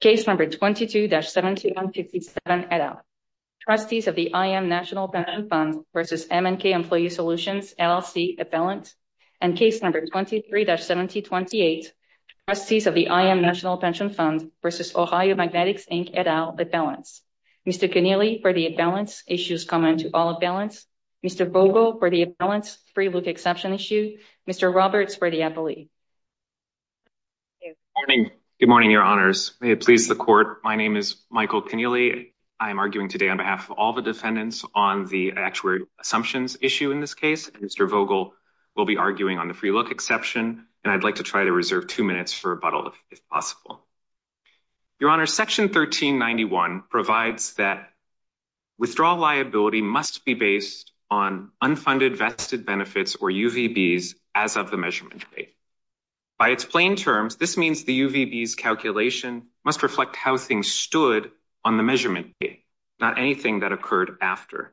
Case number 22-7157, et al. Trustees of the IAM National Pension Fund versus M&K Employee Solutions LLC, at balance. And case number 23-7028, Trustees of the IAM National Pension Fund versus Ohio Magnetics, Inc., et al., at balance. Mr. Connealy, for the at balance, issues common to all at balance. Mr. Vogel, for the at balance, free look exception issue. Mr. Roberts, for the appellee. Mr. Connealy. Good morning, your honors. May it please the court. My name is Michael Connealy. I am arguing today on behalf of all the defendants on the actuary assumptions issue in this case. Mr. Vogel will be arguing on the free look exception, and I'd like to try to reserve two minutes for rebuttal, if possible. Your honors, section 1391 provides that withdrawal liability must be based on unfunded vested benefits or UVBs as of the measurement date. By its plain terms, this means the UVBs calculation must reflect how things stood on the measurement date, not anything that occurred after.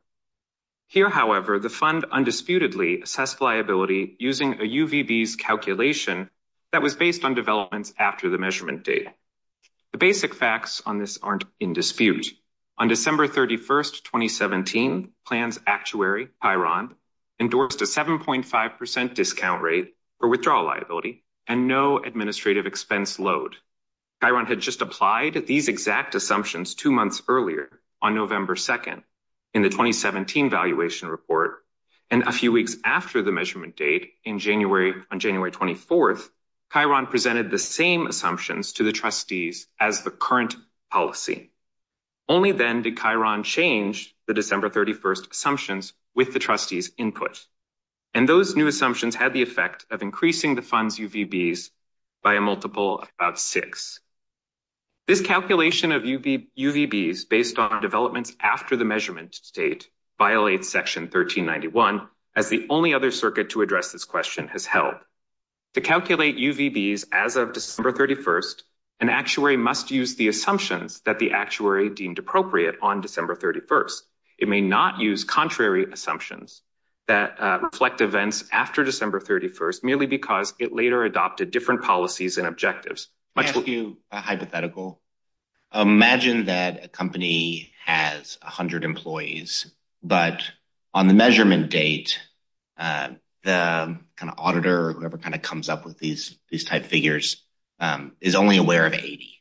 Here, however, the fund undisputedly assessed liability using a UVBs calculation that was based on developments after the measurement date. The basic facts on this aren't in dispute. On December 31st, 2017, plans actuary, Pyron, endorsed a 7.5% discount rate for withdrawal liability and no administrative expense load. Pyron had just applied these exact assumptions two months earlier on November 2nd in the 2017 valuation report. And a few weeks after the measurement date on January 24th, Pyron presented the same assumptions to the trustees as the current policy. Only then did Pyron change the December 31st assumptions with the trustees input. And those new assumptions had the effect of increasing the fund's UVBs by a multiple of six. This calculation of UVBs based on developments after the measurement date violates section 1391 as the only other circuit to address this question has held. To calculate UVBs as of December 31st, an actuary must use the assumptions that the actuary deemed appropriate on December 31st. It may not use contrary assumptions that reflect events after December 31st merely because it later adopted different policies and objectives. Much will- Can I ask you a hypothetical? Imagine that a company has a hundred employees, but on the measurement date, the kind of auditor or whoever kind of comes up with these type figures is only aware of 80.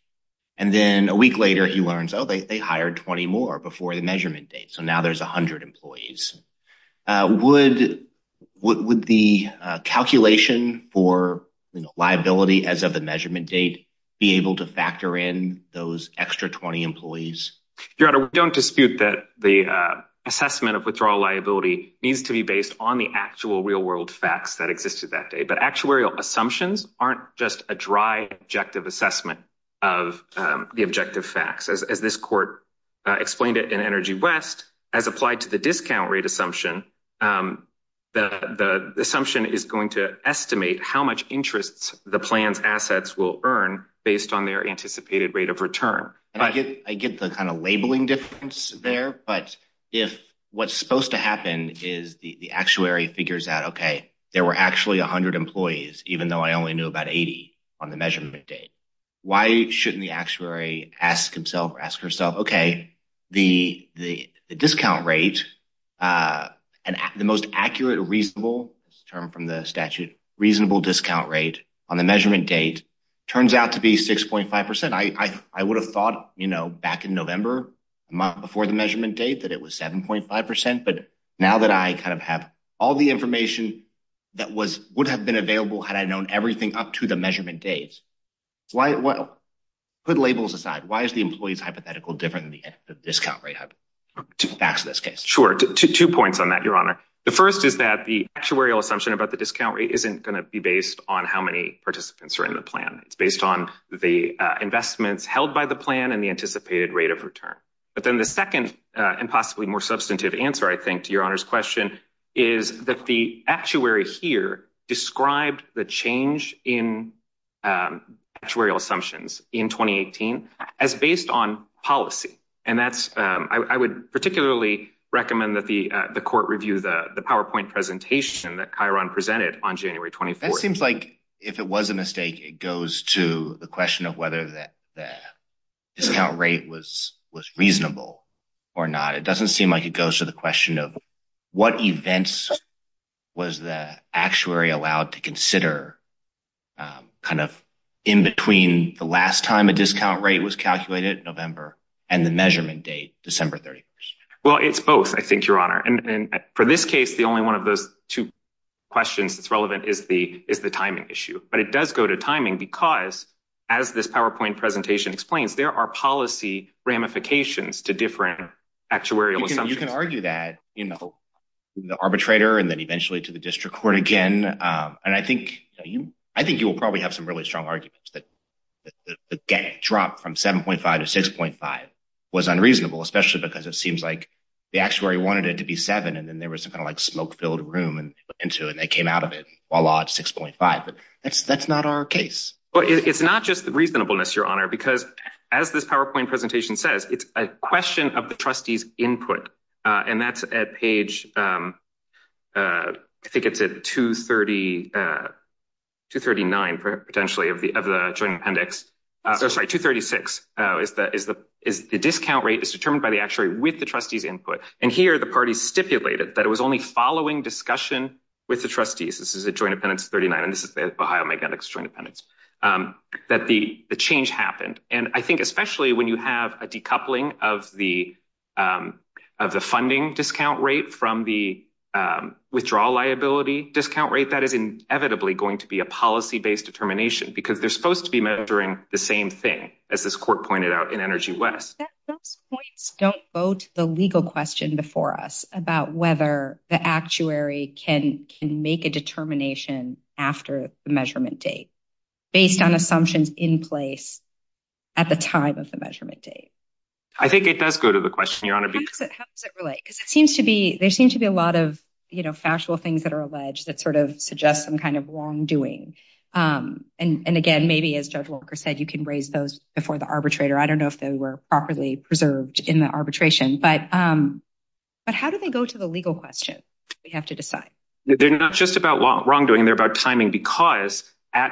And then a week later he learns, oh, they hired 20 more before the measurement date. So now there's a hundred employees. Would the calculation for liability as of the measurement date be able to factor in those extra 20 employees? Your Honor, we don't dispute that the assessment of withdrawal liability needs to be based on the actual real world facts that existed that day. But actuarial assumptions aren't just a dry, objective assessment of the objective facts. As this court explained it in Energy West, as applied to the discount rate assumption, the assumption is going to estimate how much interests the plan's assets will earn based on their anticipated rate of return. I get the kind of labeling difference there, but if what's supposed to happen is the actuary figures out, okay, there were actually a hundred employees, even though I only knew about 80 on the measurement date. Why shouldn't the actuary ask himself or ask herself, okay, the discount rate and the most accurate, reasonable term from the statute, reasonable discount rate on the measurement date turns out to be 6.5%. I would have thought back in November, a month before the measurement date that it was 7.5%. But now that I kind of have all the information that would have been available had I known everything up to the measurement date, put labels aside, why is the employee's hypothetical different than the discount rate hypothesis? Sure, two points on that, Your Honor. The first is that the actuarial assumption about the discount rate isn't going to be based on how many participants are in the plan. It's based on the investments held by the plan and the anticipated rate of return. But then the second and possibly more substantive answer, I think to Your Honor's question is that the actuary here described the change in actuarial assumptions in 2018 as based on policy. And that's, I would particularly recommend that the court review the PowerPoint presentation that Chiron presented on January 24th. That seems like if it was a mistake, it goes to the question of whether the discount rate was reasonable or not. It doesn't seem like it goes to the question of what events was the actuary allowed to consider kind of in between the last time a discount rate was calculated in November and the measurement date, December 31st. Well, it's both, I think, Your Honor. And for this case, the only one of those two questions that's relevant is the timing issue. But it does go to timing because as this PowerPoint presentation explains, there are policy ramifications to different actuarial assumptions. Well, you can argue that, you know, the arbitrator and then eventually to the district court again. And I think you will probably have some really strong arguments that the gap dropped from 7.5 to 6.5 was unreasonable, especially because it seems like the actuary wanted it to be seven and then there was some kind of like smoke-filled room and into it and they came out of it, voila, it's 6.5, but that's not our case. Well, it's not just the reasonableness, Your Honor, because as this PowerPoint presentation says, it's a question of the trustee's input. And that's at page, I think it's at 239 potentially of the joint appendix, oh, sorry, 236, is the discount rate is determined by the actuary with the trustee's input. And here the parties stipulated that it was only following discussion with the trustees, this is a joint appendix 39 and this is Ohio Magnetic's joint appendix, that the change happened. And I think especially when you have a decoupling of the funding discount rate from the withdrawal liability discount rate, that is inevitably going to be a policy-based determination because they're supposed to be measuring the same thing as this court pointed out in Energy West. Those points don't vote the legal question before us about whether the actuary can make a determination after the measurement date based on assumptions in place at the time of the measurement date. I think it does go to the question, Your Honor. How does it relate? Because it seems to be, there seems to be a lot of factual things that are alleged that sort of suggest some kind of wrongdoing. And again, maybe as Judge Walker said, you can raise those before the arbitrator. I don't know if they were properly preserved in the arbitration, but how do they go to the legal question? We have to decide. They're not just about wrongdoing, they're about timing because on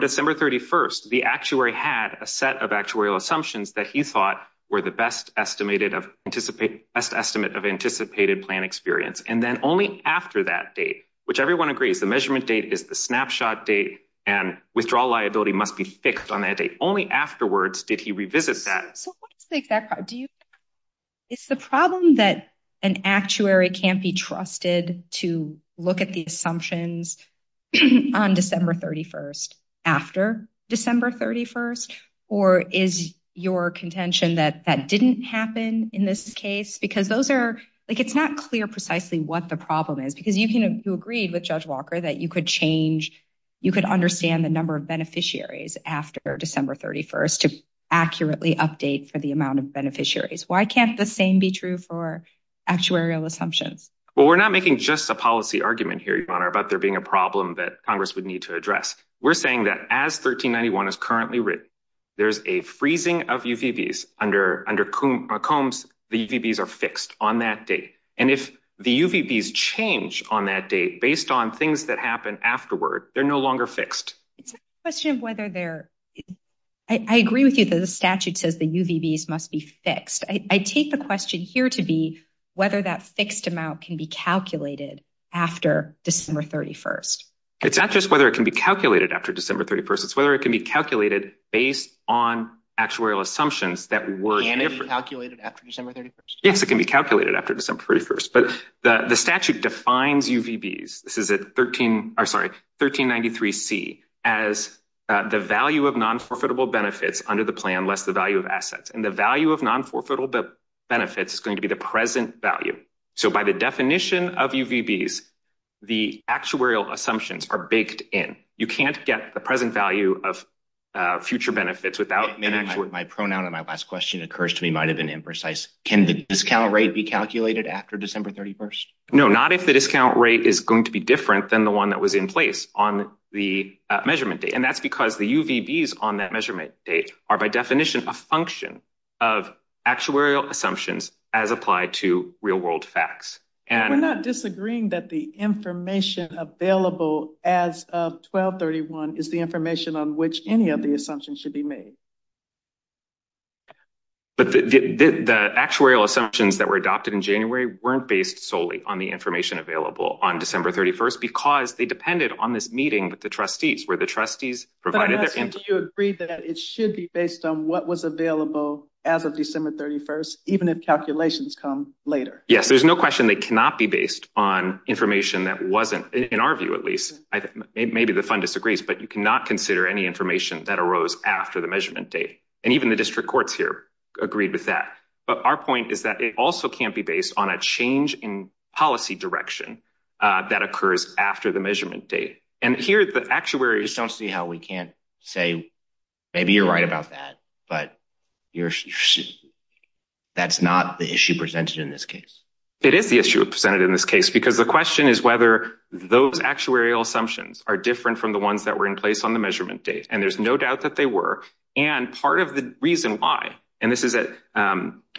December 31st, the actuary had a set of actuarial assumptions that he thought were the best estimate of anticipated plan experience. And then only after that date, which everyone agrees, the measurement date is the snapshot date and withdrawal liability must be fixed on that date. Only afterwards did he revisit that. So what is the exact problem? Is the problem that an actuary can't be trusted to look at the assumptions on December 31st after December 31st? Or is your contention that that didn't happen in this case? Because those are, like it's not clear precisely what the problem is because you agreed with Judge Walker that you could change, you could understand the number of beneficiaries after December 31st to accurately update for the amount of beneficiaries. Why can't the same be true for actuarial assumptions? Well, we're not making just a policy argument here, Your Honor, about there being a problem that Congress would need to address. We're saying that as 1391 is currently written, there's a freezing of UVBs under Combs, the UVBs are fixed on that date. And if the UVBs change on that date based on things that happen afterward, they're no longer fixed. It's a question of whether they're, I agree with you that the statute says the UVBs must be fixed. I take the question here to be whether that fixed amount can be calculated after December 31st. It's not just whether it can be calculated after December 31st, it's whether it can be calculated based on actuarial assumptions that were- Can it be calculated after December 31st? Yes, it can be calculated after December 31st. But the statute defines UVBs, this is at 13, or sorry, 1393C, as the value of non-forfeitable benefits under the plan less the value of assets. And the value of non-forfeitable benefits is going to be the present value. So by the definition of UVBs, the actuarial assumptions are baked in. You can't get the present value of future benefits without- My pronoun in my last question occurs to me might've been imprecise. Can the discount rate be calculated after December 31st? No, not if the discount rate is going to be different than the one that was in place on the measurement date. And that's because the UVBs on that measurement date are by definition, a function of actuarial assumptions as applied to real world facts. And- We're not disagreeing that the information available as of 1231 is the information on which any of the assumptions should be made. But the actuarial assumptions that were adopted in January weren't based solely on the information available on December 31st, because they depended on this meeting with the trustees where the trustees provided- Based on what was available as of December 31st, even if calculations come later. Yes, there's no question they cannot be based on information that wasn't, in our view, at least. Maybe the fund disagrees, but you cannot consider any information that arose after the measurement date. And even the district courts here agreed with that. But our point is that it also can't be based on a change in policy direction that occurs after the measurement date. And here, the actuaries- I just don't see how we can't say, maybe you're right about that, but that's not the issue presented in this case. It is the issue presented in this case, because the question is whether those actuarial assumptions are different from the ones that were in place on the measurement date. And there's no doubt that they were. And part of the reason why, and this is at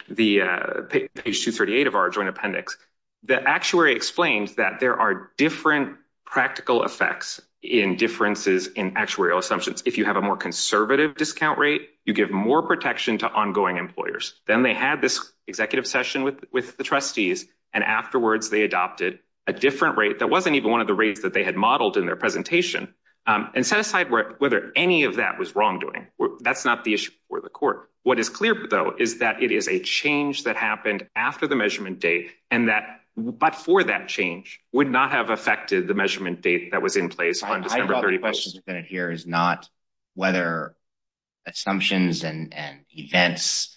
page 238 of our joint appendix, the actuary explains that there are different practical effects in differences in actuarial assumptions if you have a more conservative discount rate, you give more protection to ongoing employers. Then they had this executive session with the trustees, and afterwards they adopted a different rate that wasn't even one of the rates that they had modeled in their presentation, and set aside whether any of that was wrongdoing. That's not the issue for the court. What is clear, though, is that it is a change that happened after the measurement date, and that, but for that change, would not have affected the measurement date that was in place on December 31st. The question here is not whether assumptions and events,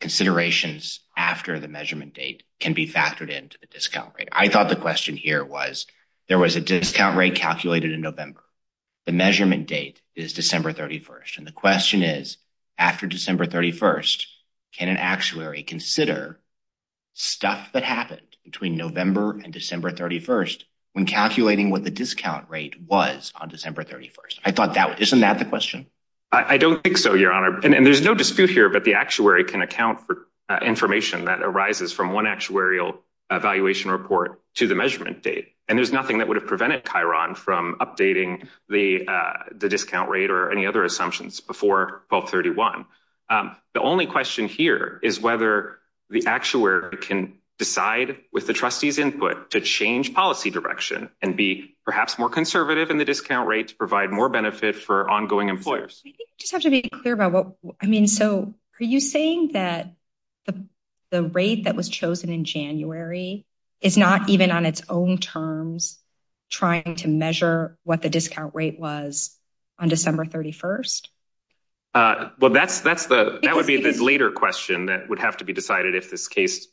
considerations after the measurement date can be factored into the discount rate. I thought the question here was, there was a discount rate calculated in November. The measurement date is December 31st. And the question is, after December 31st, can an actuary consider stuff that happened between November and December 31st when calculating what the discount rate was on December 31st? I thought that, isn't that the question? I don't think so, Your Honor. And there's no dispute here, but the actuary can account for information that arises from one actuarial evaluation report to the measurement date. And there's nothing that would have prevented Chiron from updating the discount rate or any other assumptions before 1231. The only question here is whether the actuary can decide with the trustees' input to change policy direction and be perhaps more conservative in the discount rate to provide more benefit for ongoing employers. I think we just have to be clear about what, I mean, so are you saying that the rate that was chosen in January is not even on its own terms trying to measure what the discount rate was on December 31st? Well, that would be the later question that would have to be decided if this case,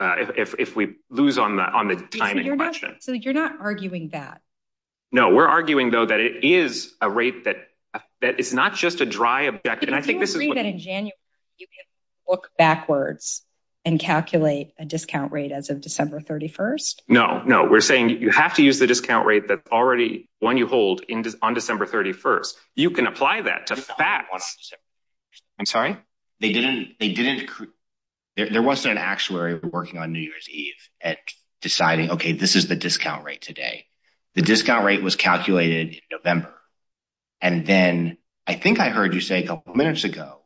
if we lose on the timing question. So you're not arguing that? No, we're arguing though that it is a rate that is not just a dry objective. And I think this is what- Do you agree that in January you can look backwards and calculate a discount rate as of December 31st? No, no, we're saying you have to use the discount rate that's already, one you hold on December 31st. You can apply that to facts. I'm sorry? They didn't, there wasn't an actuary working on New Year's Eve at deciding, okay, this is the discount rate today. The discount rate was calculated in November. And then I think I heard you say a couple of minutes ago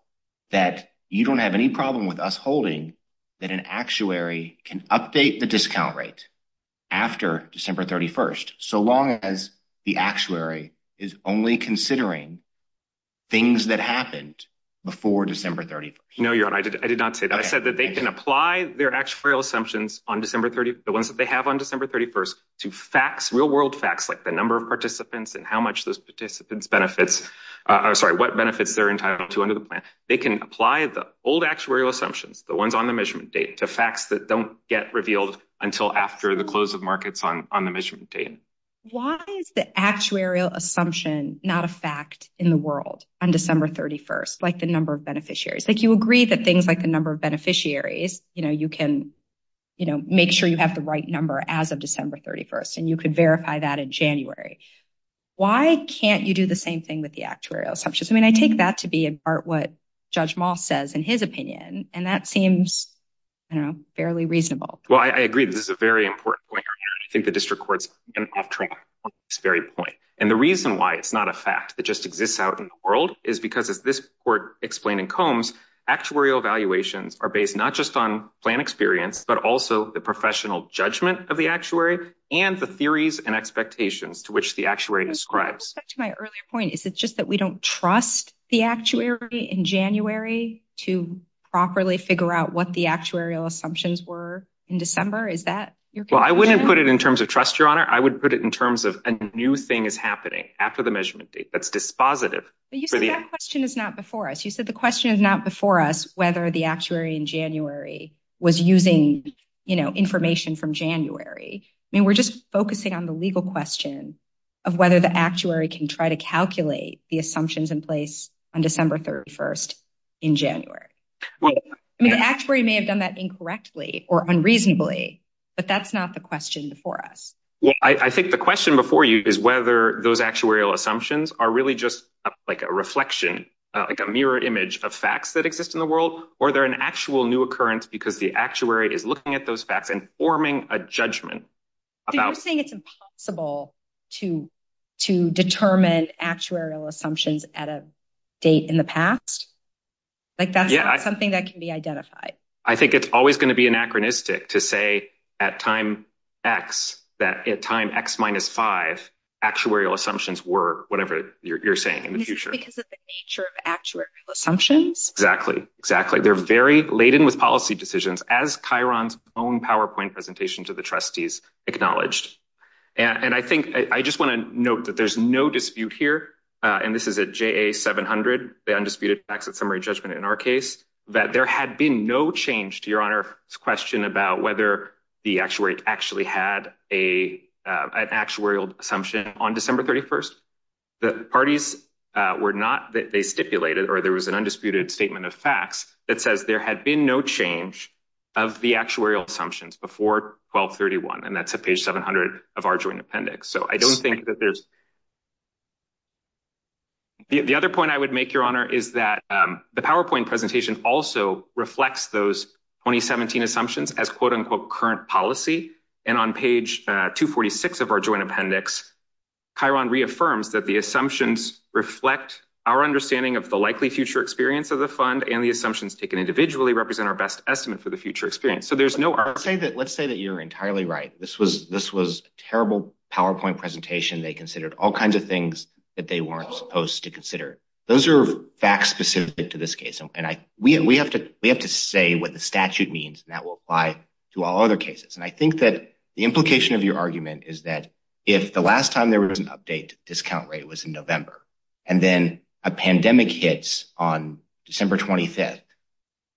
that you don't have any problem with us holding that an actuary can update the discount rate after December 31st. So long as the actuary is only considering things that happened before December 31st. No, you're right. I did not say that. I said that they can apply their actuarial assumptions on December 31st, the ones that they have on December 31st to facts, real world facts, like the number of participants and how much those participants benefits, or sorry, what benefits they're entitled to under the plan. They can apply the old actuarial assumptions, the ones on the measurement date, to facts that don't get revealed until after the close of markets on the measurement date. Why is the actuarial assumption not a fact in the world on December 31st, like the number of beneficiaries? Like you agree that things like the number of beneficiaries, you can make sure you have the right number as of December 31st, and you could verify that in January. Why can't you do the same thing with the actuarial assumptions? I mean, I take that to be in part what Judge Moss says in his opinion, and that seems, I don't know, fairly reasonable. Well, I agree that this is a very important point. I think the district court's been off-track on this very point. And the reason why it's not a fact that just exists out in the world is because as this court explained in Combs, actuarial evaluations are based not just on plan experience, but also the professional judgment of the actuary and the theories and expectations to which the actuary describes. To my earlier point, is it just that we don't trust the actuary in January to properly figure out what the actuarial assumptions were in December? Is that your question? Well, I wouldn't put it in terms of trust, Your Honor. I would put it in terms of a new thing is happening after the measurement date that's dispositive. But you said that question is not before us. You said the question is not before us whether the actuary in January was using information from January. I mean, we're just focusing on the legal question of whether the actuary can try to calculate the assumptions in place on December 31st in January. I mean, the actuary may have done that incorrectly or unreasonably, but that's not the question before us. Well, I think the question before you is whether those actuarial assumptions are really just like a reflection, like a mirror image of facts that exist in the world, or they're an actual new occurrence because the actuary is looking at those facts and forming a judgment about- So you're saying it's impossible to determine actuarial assumptions at a date in the past? Like that's not something that can be identified. I think it's always going to be anachronistic to say at time X, that at time X minus five, actuarial assumptions were whatever you're saying in the future. Is it because of the nature of actuarial assumptions? Exactly, exactly. They're very laden with policy decisions as Chiron's own PowerPoint presentation to the trustees acknowledged. And I think, I just want to note that there's no dispute here, and this is a JA 700, the undisputed facts of summary judgment in our case, that there had been no change to your honor's question about whether the actuary actually had an actuarial assumption on December 31st. The parties were not, they stipulated, or there was an undisputed statement of facts that says there had been no change of the actuarial assumptions before 1231. And that's a page 700 of our joint appendix. So I don't think that there's... The other point I would make your honor is that the PowerPoint presentation also reflects those 2017 assumptions as quote unquote current policy. And on page 246 of our joint appendix, Chiron reaffirms that the assumptions reflect our understanding of the likely future experience of the fund and the assumptions taken individually represent our best estimate for the future experience. So there's no... Let's say that you're entirely right. This was a terrible PowerPoint presentation. They considered all kinds of things that they weren't supposed to consider. Those are facts specific to this case. And we have to say what the statute means and that will apply to all other cases. And I think that the implication of your argument is that if the last time there was an update discount rate was in November, and then a pandemic hits on December 25th,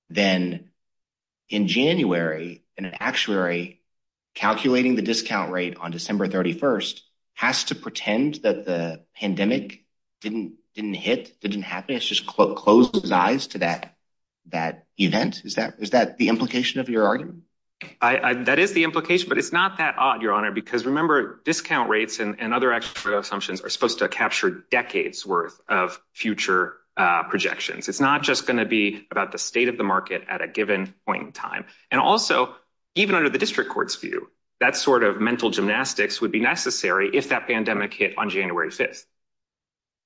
then in January, an actuary calculating the discount rate on December 31st has to pretend that the pandemic didn't hit, didn't happen. It's just close his eyes to that event. Is that the implication of your argument? That is the implication, but it's not that odd your honor, because remember discount rates and other actual assumptions are supposed to capture decades worth of future projections. It's not just gonna be about the state of the market at a given point in time. And also even under the district court's view, that sort of mental gymnastics would be necessary if that pandemic hit on January 5th.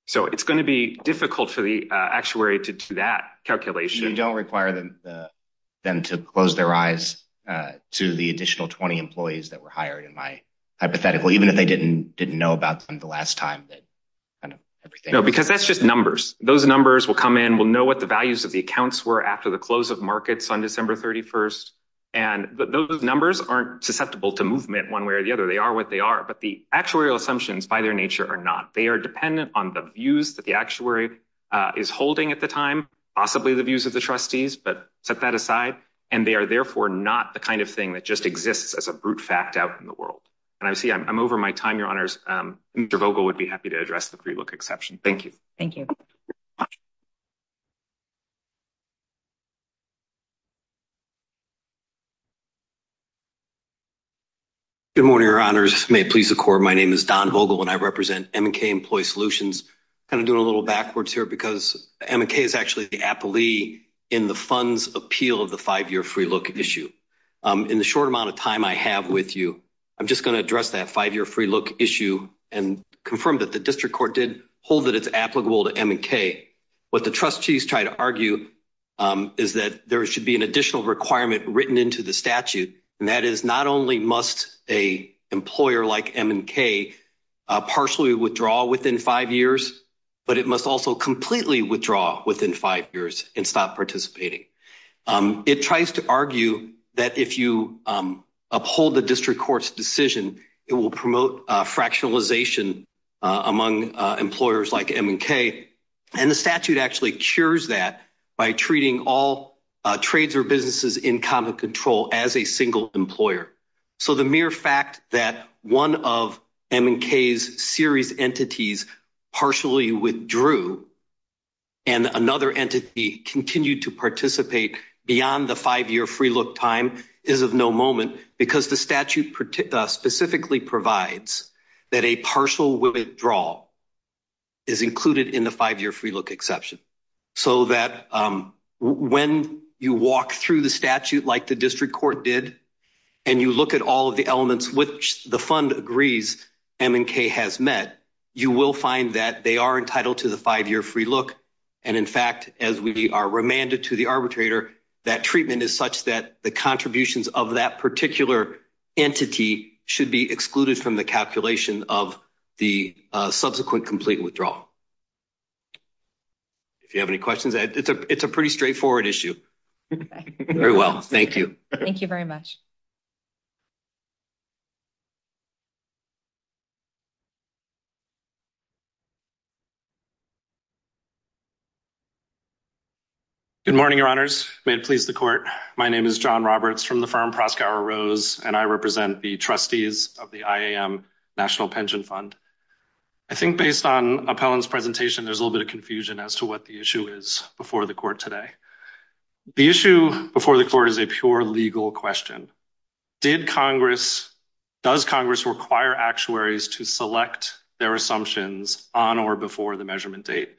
So it's gonna be difficult for the actuary to do that calculation. You don't require them to close their eyes to the additional 20 employees that were hired in my hypothetical, even if they didn't know about them the last time. No, because that's just numbers. Those numbers will come in, we'll know what the values of the accounts were after the close of markets on December 31st. And those numbers aren't susceptible to movement one way or the other, they are what they are. But the actuarial assumptions by their nature are not. They are dependent on the views that the actuary is holding at the time, possibly the views of the trustees, but set that aside. And they are therefore not the kind of thing that just exists as a brute fact out in the world. And I see I'm over my time, your honors. Mr. Vogel would be happy to address the pre-look exception. Thank you. Thank you. Thank you. Good morning, your honors. May it please the court. My name is Don Vogel and I represent M&K Employee Solutions. Kind of doing a little backwards here because M&K is actually the appellee in the funds appeal of the five-year free look issue. In the short amount of time I have with you, I'm just gonna address that five-year free look issue and confirm that the district court did hold that it's applicable to M&K. What the trustees try to argue is that there should be an additional requirement written into the statute. And that is not only must a employer like M&K partially withdraw within five years, but it must also completely withdraw within five years and stop participating. It tries to argue that if you uphold the district court's decision, it will promote a fractionalization among employers like M&K. And the statute actually cures that by treating all trades or businesses in common control as a single employer. So the mere fact that one of M&K's series entities partially withdrew and another entity continued to participate beyond the five-year free look time is of no moment because the statute specifically provides that a partial withdrawal is included in the five-year free look exception. So that when you walk through the statute like the district court did, and you look at all of the elements which the fund agrees M&K has met, you will find that they are entitled to the five-year free look. And in fact, as we are remanded to the arbitrator, that treatment is such that the contributions of that particular entity should be excluded from the calculation of the subsequent complete withdrawal. If you have any questions, it's a pretty straightforward issue. Very well, thank you. Thank you very much. Good morning, your honors. May it please the court. My name is John Roberts from the firm Proskauer Rose, and I represent the trustees of the IAM National Pension Fund. I think based on Appellant's presentation, there's a little bit of confusion as to what the issue is before the court today. The issue before the court is a pure legal question. Did Congress, does Congress require actuaries to select their assumptions on or before the measurement date?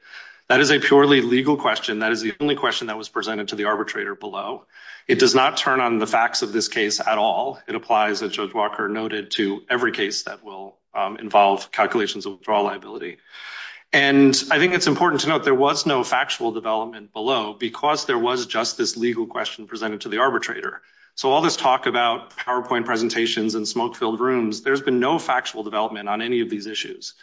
That is a purely legal question. That is the only question that was presented to the arbitrator below. It does not turn on the facts of this case at all. It applies, as Judge Walker noted, to every case that will involve calculations of withdrawal liability. And I think it's important to note there was no factual development below because there was just this legal question presented to the arbitrator. So all this talk about PowerPoint presentations and smoke-filled rooms, there's been no factual development on any of these issues.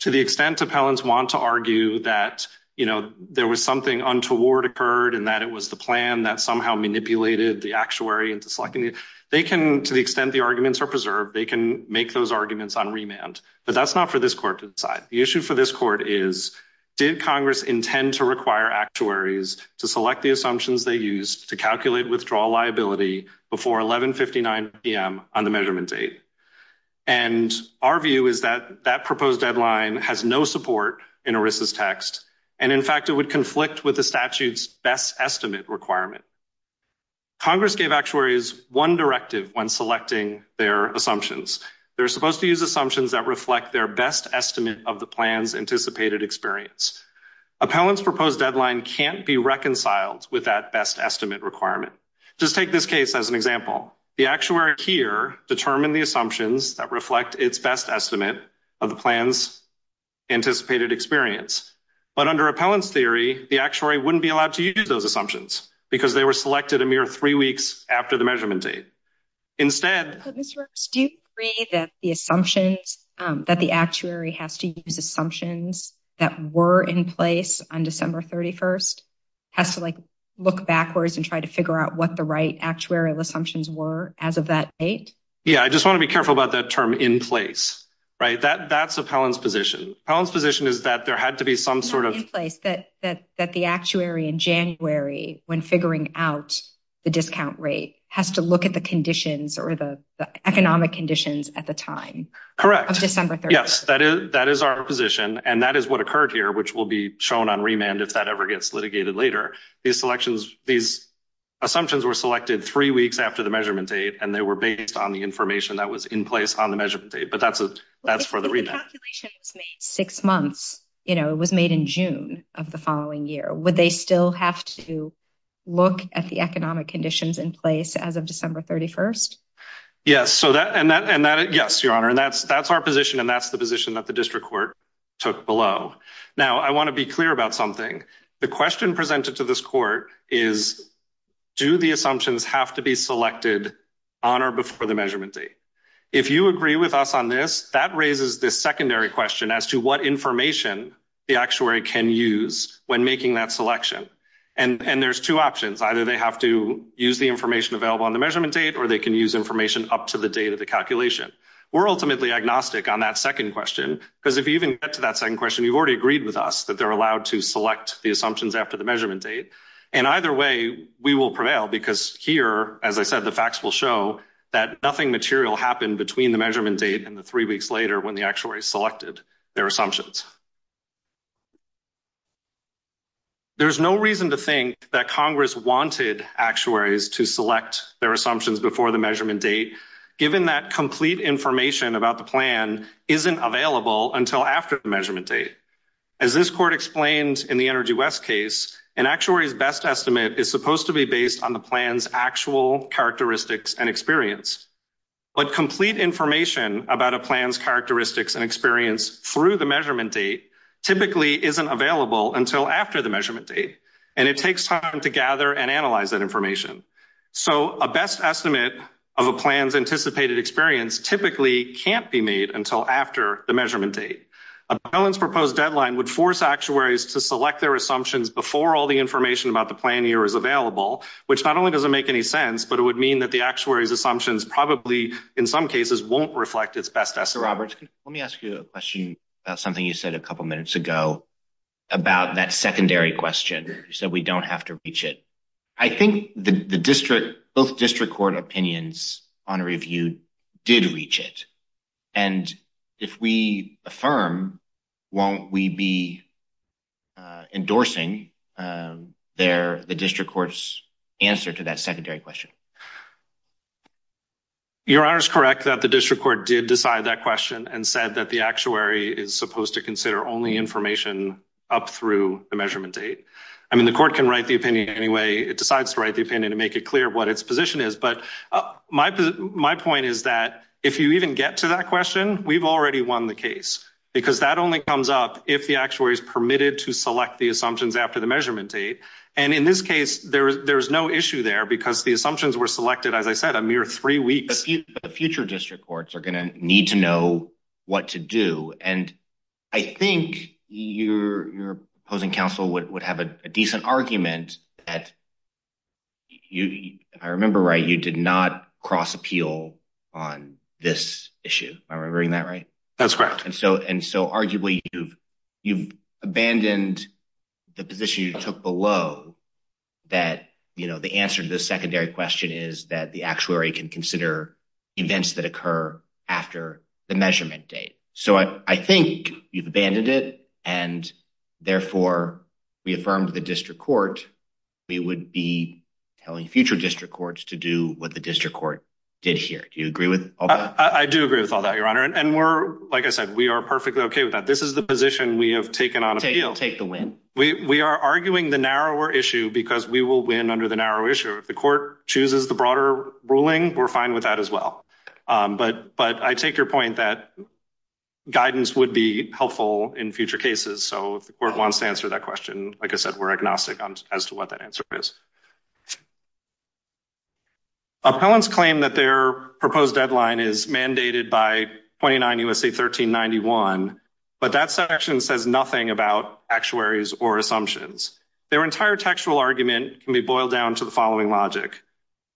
To the extent Appellants want to argue that there was something untoward occurred and that it was the plan that somehow manipulated the actuary into selecting, they can, to the extent the arguments are preserved, they can make those arguments on remand. But that's not for this court to decide. The issue for this court is, did Congress intend to require actuaries to select the assumptions they used to calculate withdrawal liability before 11.59 p.m. on the measurement date? And our view is that that proposed deadline has no support in ERISA's text. And in fact, it would conflict with the statute's best estimate requirement. Congress gave actuaries one directive when selecting their assumptions. They're supposed to use assumptions that reflect their best estimate of the plan's anticipated experience. Appellant's proposed deadline can't be reconciled with that best estimate requirement. Just take this case as an example. The actuary here determined the assumptions that reflect its best estimate of the plan's anticipated experience. But under Appellant's theory, the actuary wouldn't be allowed to use those assumptions because they were selected a mere three weeks after the measurement date. Instead- Mr. Rooks, do you agree that the assumptions, that the actuary has to use assumptions that were in place on December 31st, has to like look backwards and try to figure out what the right actuarial assumptions were as of that date? Yeah, I just wanna be careful about that term in place. Right, that's Appellant's position. Appellant's position is that there had to be some sort of- That the actuary in January, when figuring out the discount rate, has to look at the conditions or the economic conditions at the time. Correct. Of December 31st. Yes, that is our position. And that is what occurred here, which will be shown on remand if that ever gets litigated later. These selections, these assumptions were selected three weeks after the measurement date, and they were based on the information that was in place on the measurement date. But that's for the remand. Well, if the calculation was made six months, it was made in June of the following year, would they still have to look at the economic conditions in place as of December 31st? Yes, so that, and that, yes, Your Honor. And that's our position, and that's the position that the district court took below. Now, I wanna be clear about something. The question presented to this court is, do the assumptions have to be selected on or before the measurement date? If you agree with us on this, that raises this secondary question as to what information the actuary can use when making that selection. And there's two options. Either they have to use the information available on the measurement date, or they can use information up to the date of the calculation. We're ultimately agnostic on that second question, because if you even get to that second question, you've already agreed with us that they're allowed to select the assumptions after the measurement date. And either way, we will prevail, because here, as I said, the facts will show that nothing material happened between the measurement date and the three weeks later when the actuary selected their assumptions. There's no reason to think that Congress wanted actuaries to select their assumptions before the measurement date, given that complete information about the plan isn't available until after the measurement date. As this court explained in the Energy West case, an actuary's best estimate is supposed to be based on the plan's actual characteristics and experience. But complete information about a plan's characteristics and experience through the measurement date typically isn't available until after the measurement date, and it takes time to gather and analyze that information. So a best estimate of a plan's anticipated experience typically can't be made until after the measurement date. A balance proposed deadline would force actuaries to select their assumptions before all the information about the plan year is available, but it would mean that the actuary's assumptions in some cases won't reflect its best estimate. Robert, let me ask you a question about something you said a couple minutes ago about that secondary question. You said we don't have to reach it. I think both district court opinions on a review did reach it, and if we affirm, won't we be endorsing the district court's answer to that secondary question? Your Honor's correct that the district court did decide that question and said that the actuary is supposed to consider only information up through the measurement date. I mean, the court can write the opinion anyway. It decides to write the opinion to make it clear what its position is, but my point is that if you even get to that question, we've already won the case because that only comes up if the actuary's permitted to select the assumptions after the measurement date, and in this case, there's no issue there because the assumptions were selected, as I said, a mere three weeks. The future district courts are gonna need to know what to do, and I think your opposing counsel would have a decent argument that, I remember right, you did not cross-appeal on this issue. Am I remembering that right? That's correct. And so, arguably, you've abandoned the position you took below that the answer to the secondary question is that the actuary can consider events that occur after the measurement date. So I think you've abandoned it, and therefore, we affirmed the district court. We would be telling future district courts to do what the district court did here. Do you agree with all that? I do agree with all that, Your Honor, and we're, like I said, we are perfectly okay with that. This is the position we have taken on appeal. Take the win. We are arguing the narrower issue because we will win under the narrow issue. If the court chooses the broader ruling, we're fine with that as well. But I take your point that guidance would be helpful in future cases. So if the court wants to answer that question, like I said, we're agnostic as to what that answer is. Appellants claim that their proposed deadline is mandated by 29 U.S.A. 1391, but that section says nothing about actuaries or assumptions. Their entire textual argument can be boiled down to the following logic.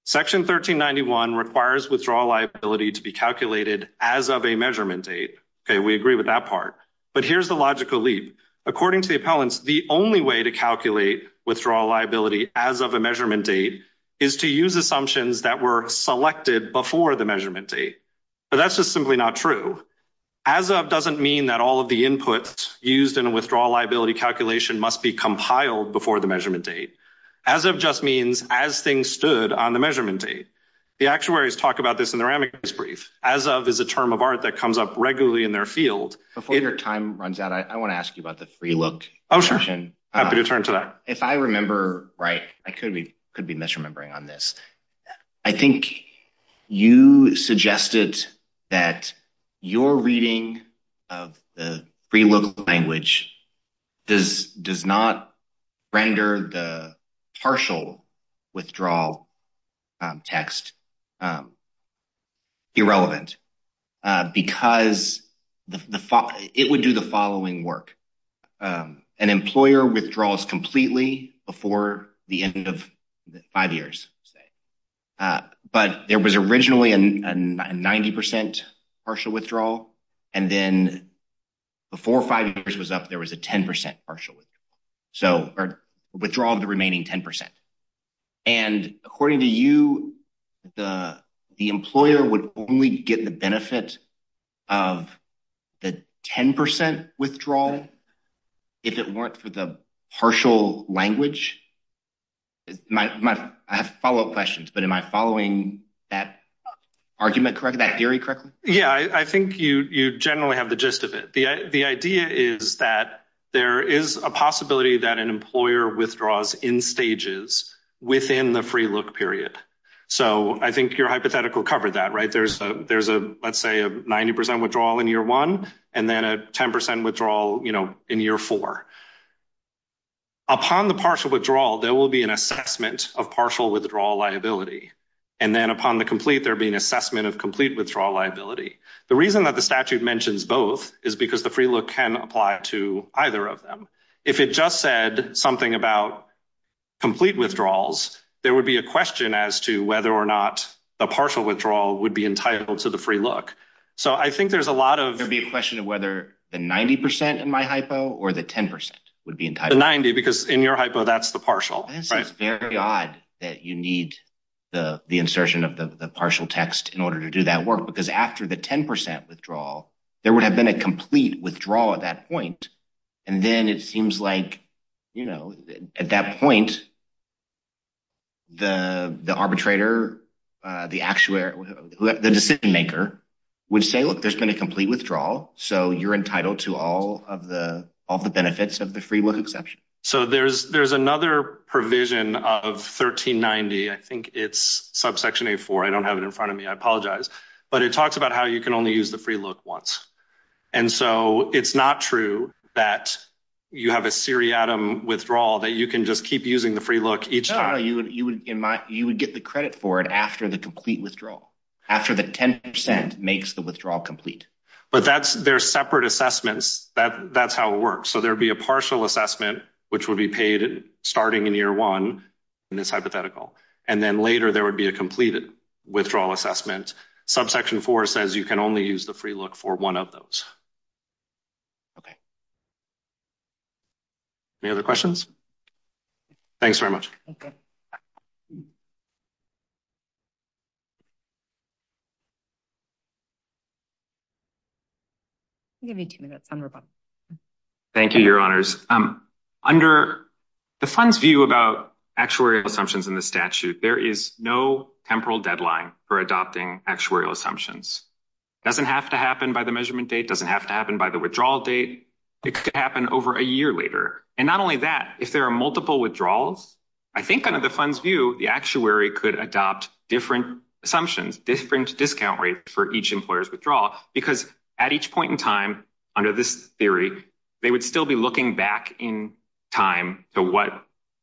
Section 1391 requires withdrawal liability to be calculated as of a measurement date. Okay, we agree with that part, but here's the logical leap. According to the appellants, the only way to calculate withdrawal liability as of a measurement date is to use assumptions that were selected before the measurement date, but that's just simply not true. As of doesn't mean that all of the inputs used in a withdrawal liability calculation must be compiled before the measurement date. As of just means as things stood on the measurement date. The actuaries talk about this in their amicus brief. As of is a term of art that comes up regularly in their field. Before your time runs out, I wanna ask you about the free look. Oh, sure, happy to turn to that. If I remember right, I could be misremembering on this. I think you suggested that your reading of the free look language does not render the partial withdrawal text irrelevant because it would do the following work. An employer withdraws completely before the end of five years, say, but there was originally a 90% partial withdrawal and then before five years was up, there was a 10% partial withdrawal. So, or withdrawal of the remaining 10%. And according to you, the employer would only get the benefit of the 10% withdrawal if it weren't for the partial language. I have follow up questions, but am I following that argument correctly, that theory correctly? Yeah, I think you generally have the gist of it. The idea is that there is a possibility that an employer withdraws in stages within the free look period. So, I think your hypothetical covered that, right? There's a, let's say a 90% withdrawal in year one and then a 10% withdrawal in year four. Upon the partial withdrawal, there will be an assessment of partial withdrawal liability. And then upon the complete, there'll be an assessment of complete withdrawal liability. The reason that the statute mentions both is because the free look can apply to either of them. If it just said something about complete withdrawals, there would be a question as to whether or not the partial withdrawal would be entitled to the free look. So, I think there's a lot of- There'd be a question of whether the 90% in my hypo or the 10% would be entitled- The 90, because in your hypo, that's the partial, right? This is very odd that you need the insertion of the partial text in order to do that work because after the 10% withdrawal, there would have been a complete withdrawal at that point. And then it seems like, you know, at that point, the arbitrator, the decision maker would say, look, there's been a complete withdrawal. So, you're entitled to all of the benefits of the free look exception. So, there's another provision of 1390. I think it's subsection A4. I don't have it in front of me. I apologize. But it talks about how you can only use the free look once. And so, it's not true that you have a seriatim withdrawal that you can just keep using the free look each time. No, you would get the credit for it after the complete withdrawal, after the 10% makes the withdrawal complete. But that's, they're separate assessments. That's how it works. So, there'd be a partial assessment, which would be paid starting in year one, and it's hypothetical. And then later, there would be a completed withdrawal assessment. Subsection four says you can only use the free look for one of those. Okay. Any other questions? Thanks very much. Thank you. Give me two minutes, I'm rebuttal. Thank you, your honors. Under the fund's view about actuarial assumptions in the statute, there is no temporal deadline for adopting actuarial assumptions. It doesn't have to happen by the measurement date. It doesn't have to happen by the withdrawal date. It could happen over a year later. And not only that, if there are multiple withdrawals, I think under the fund's view, the actuary could adopt different assumptions, different discount rates for each employer's withdrawal. Because at each point in time, under this theory, they would still be looking back in time to what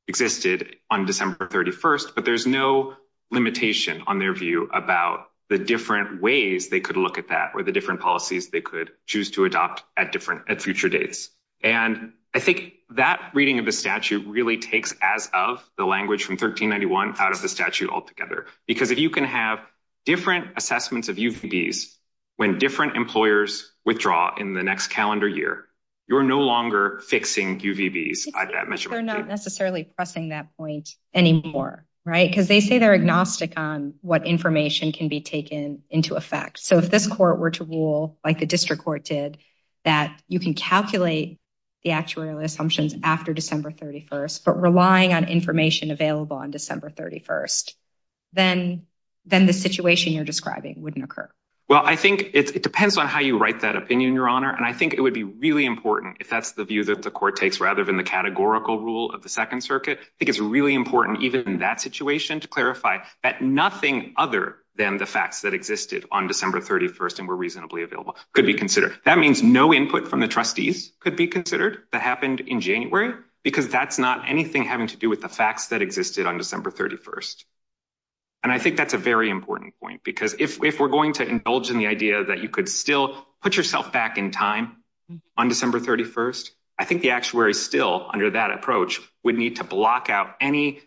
existed on December 31st, but there's no limitation on their view about the different ways they could look at that or the different policies they could choose to adopt at different future dates. And I think that reading of the statute really takes as of the language from 1391 out of the statute altogether. Because if you can have different assessments of UVDs, when different employers withdraw in the next calendar year, you're no longer fixing UVDs at that measurement date. They're not necessarily pressing that point anymore, right? Because they say they're agnostic on what information can be taken into effect. So if this court were to rule, like the district court did, that you can calculate the actuarial assumptions after December 31st, but relying on information available on December 31st, then the situation you're describing wouldn't occur. Well, I think it depends on how you write that opinion, Your Honor. And I think it would be really important if that's the view that the court takes rather than the categorical rule of the Second Circuit. I think it's really important even in that situation to clarify that nothing other than the facts that existed on December 31st and were reasonably available could be considered. That means no input from the trustees could be considered that happened in January, because that's not anything having to do with the facts that existed on December 31st. And I think that's a very important point because if we're going to indulge in the idea that you could still put yourself back in time on December 31st, I think the actuary still, under that approach, would need to block out any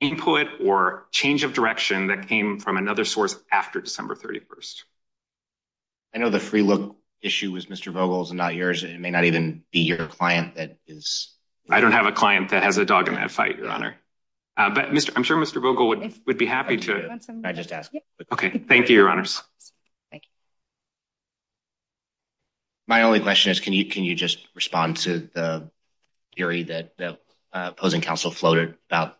input or change of direction that came from another source after December 31st. I know the free look issue was Mr. Vogel's and not yours, and it may not even be your client that is- I don't have a client that has a dog in that fight, Your Honor. But I'm sure Mr. Vogel would be happy to- Can I just ask? Thank you, Your Honors. My only question is, can you just respond to the theory that the opposing counsel floated about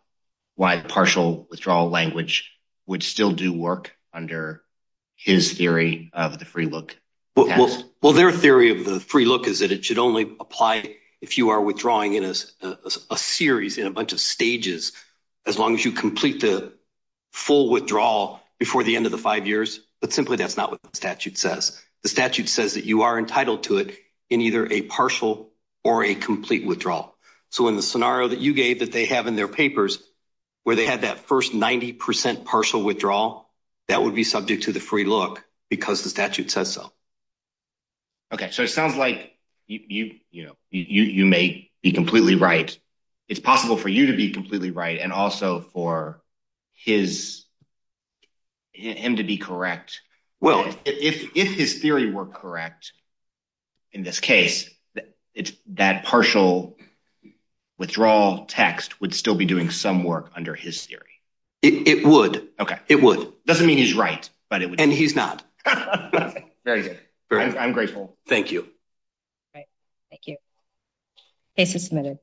why partial withdrawal language would still do work under his theory of the free look? Well, their theory of the free look is that it should only apply if you are withdrawing in a series, in a bunch of stages, as long as you complete the full withdrawal before the end of the five years. But simply, that's not what the statute says. The statute says that you are entitled to it in either a partial or a complete withdrawal. So in the scenario that you gave that they have in their papers, where they had that first 90% partial withdrawal, that would be subject to the free look because the statute says so. Okay, so it sounds like you may be completely right. It's possible for you to be completely right, and also for him to be correct. Well, if his theory were correct in this case, that partial withdrawal text would still be doing some work under his theory. It would. Okay, it would. Doesn't mean he's right, but it would. And he's not. Very good. I'm grateful. Thank you. Great, thank you. Case is submitted.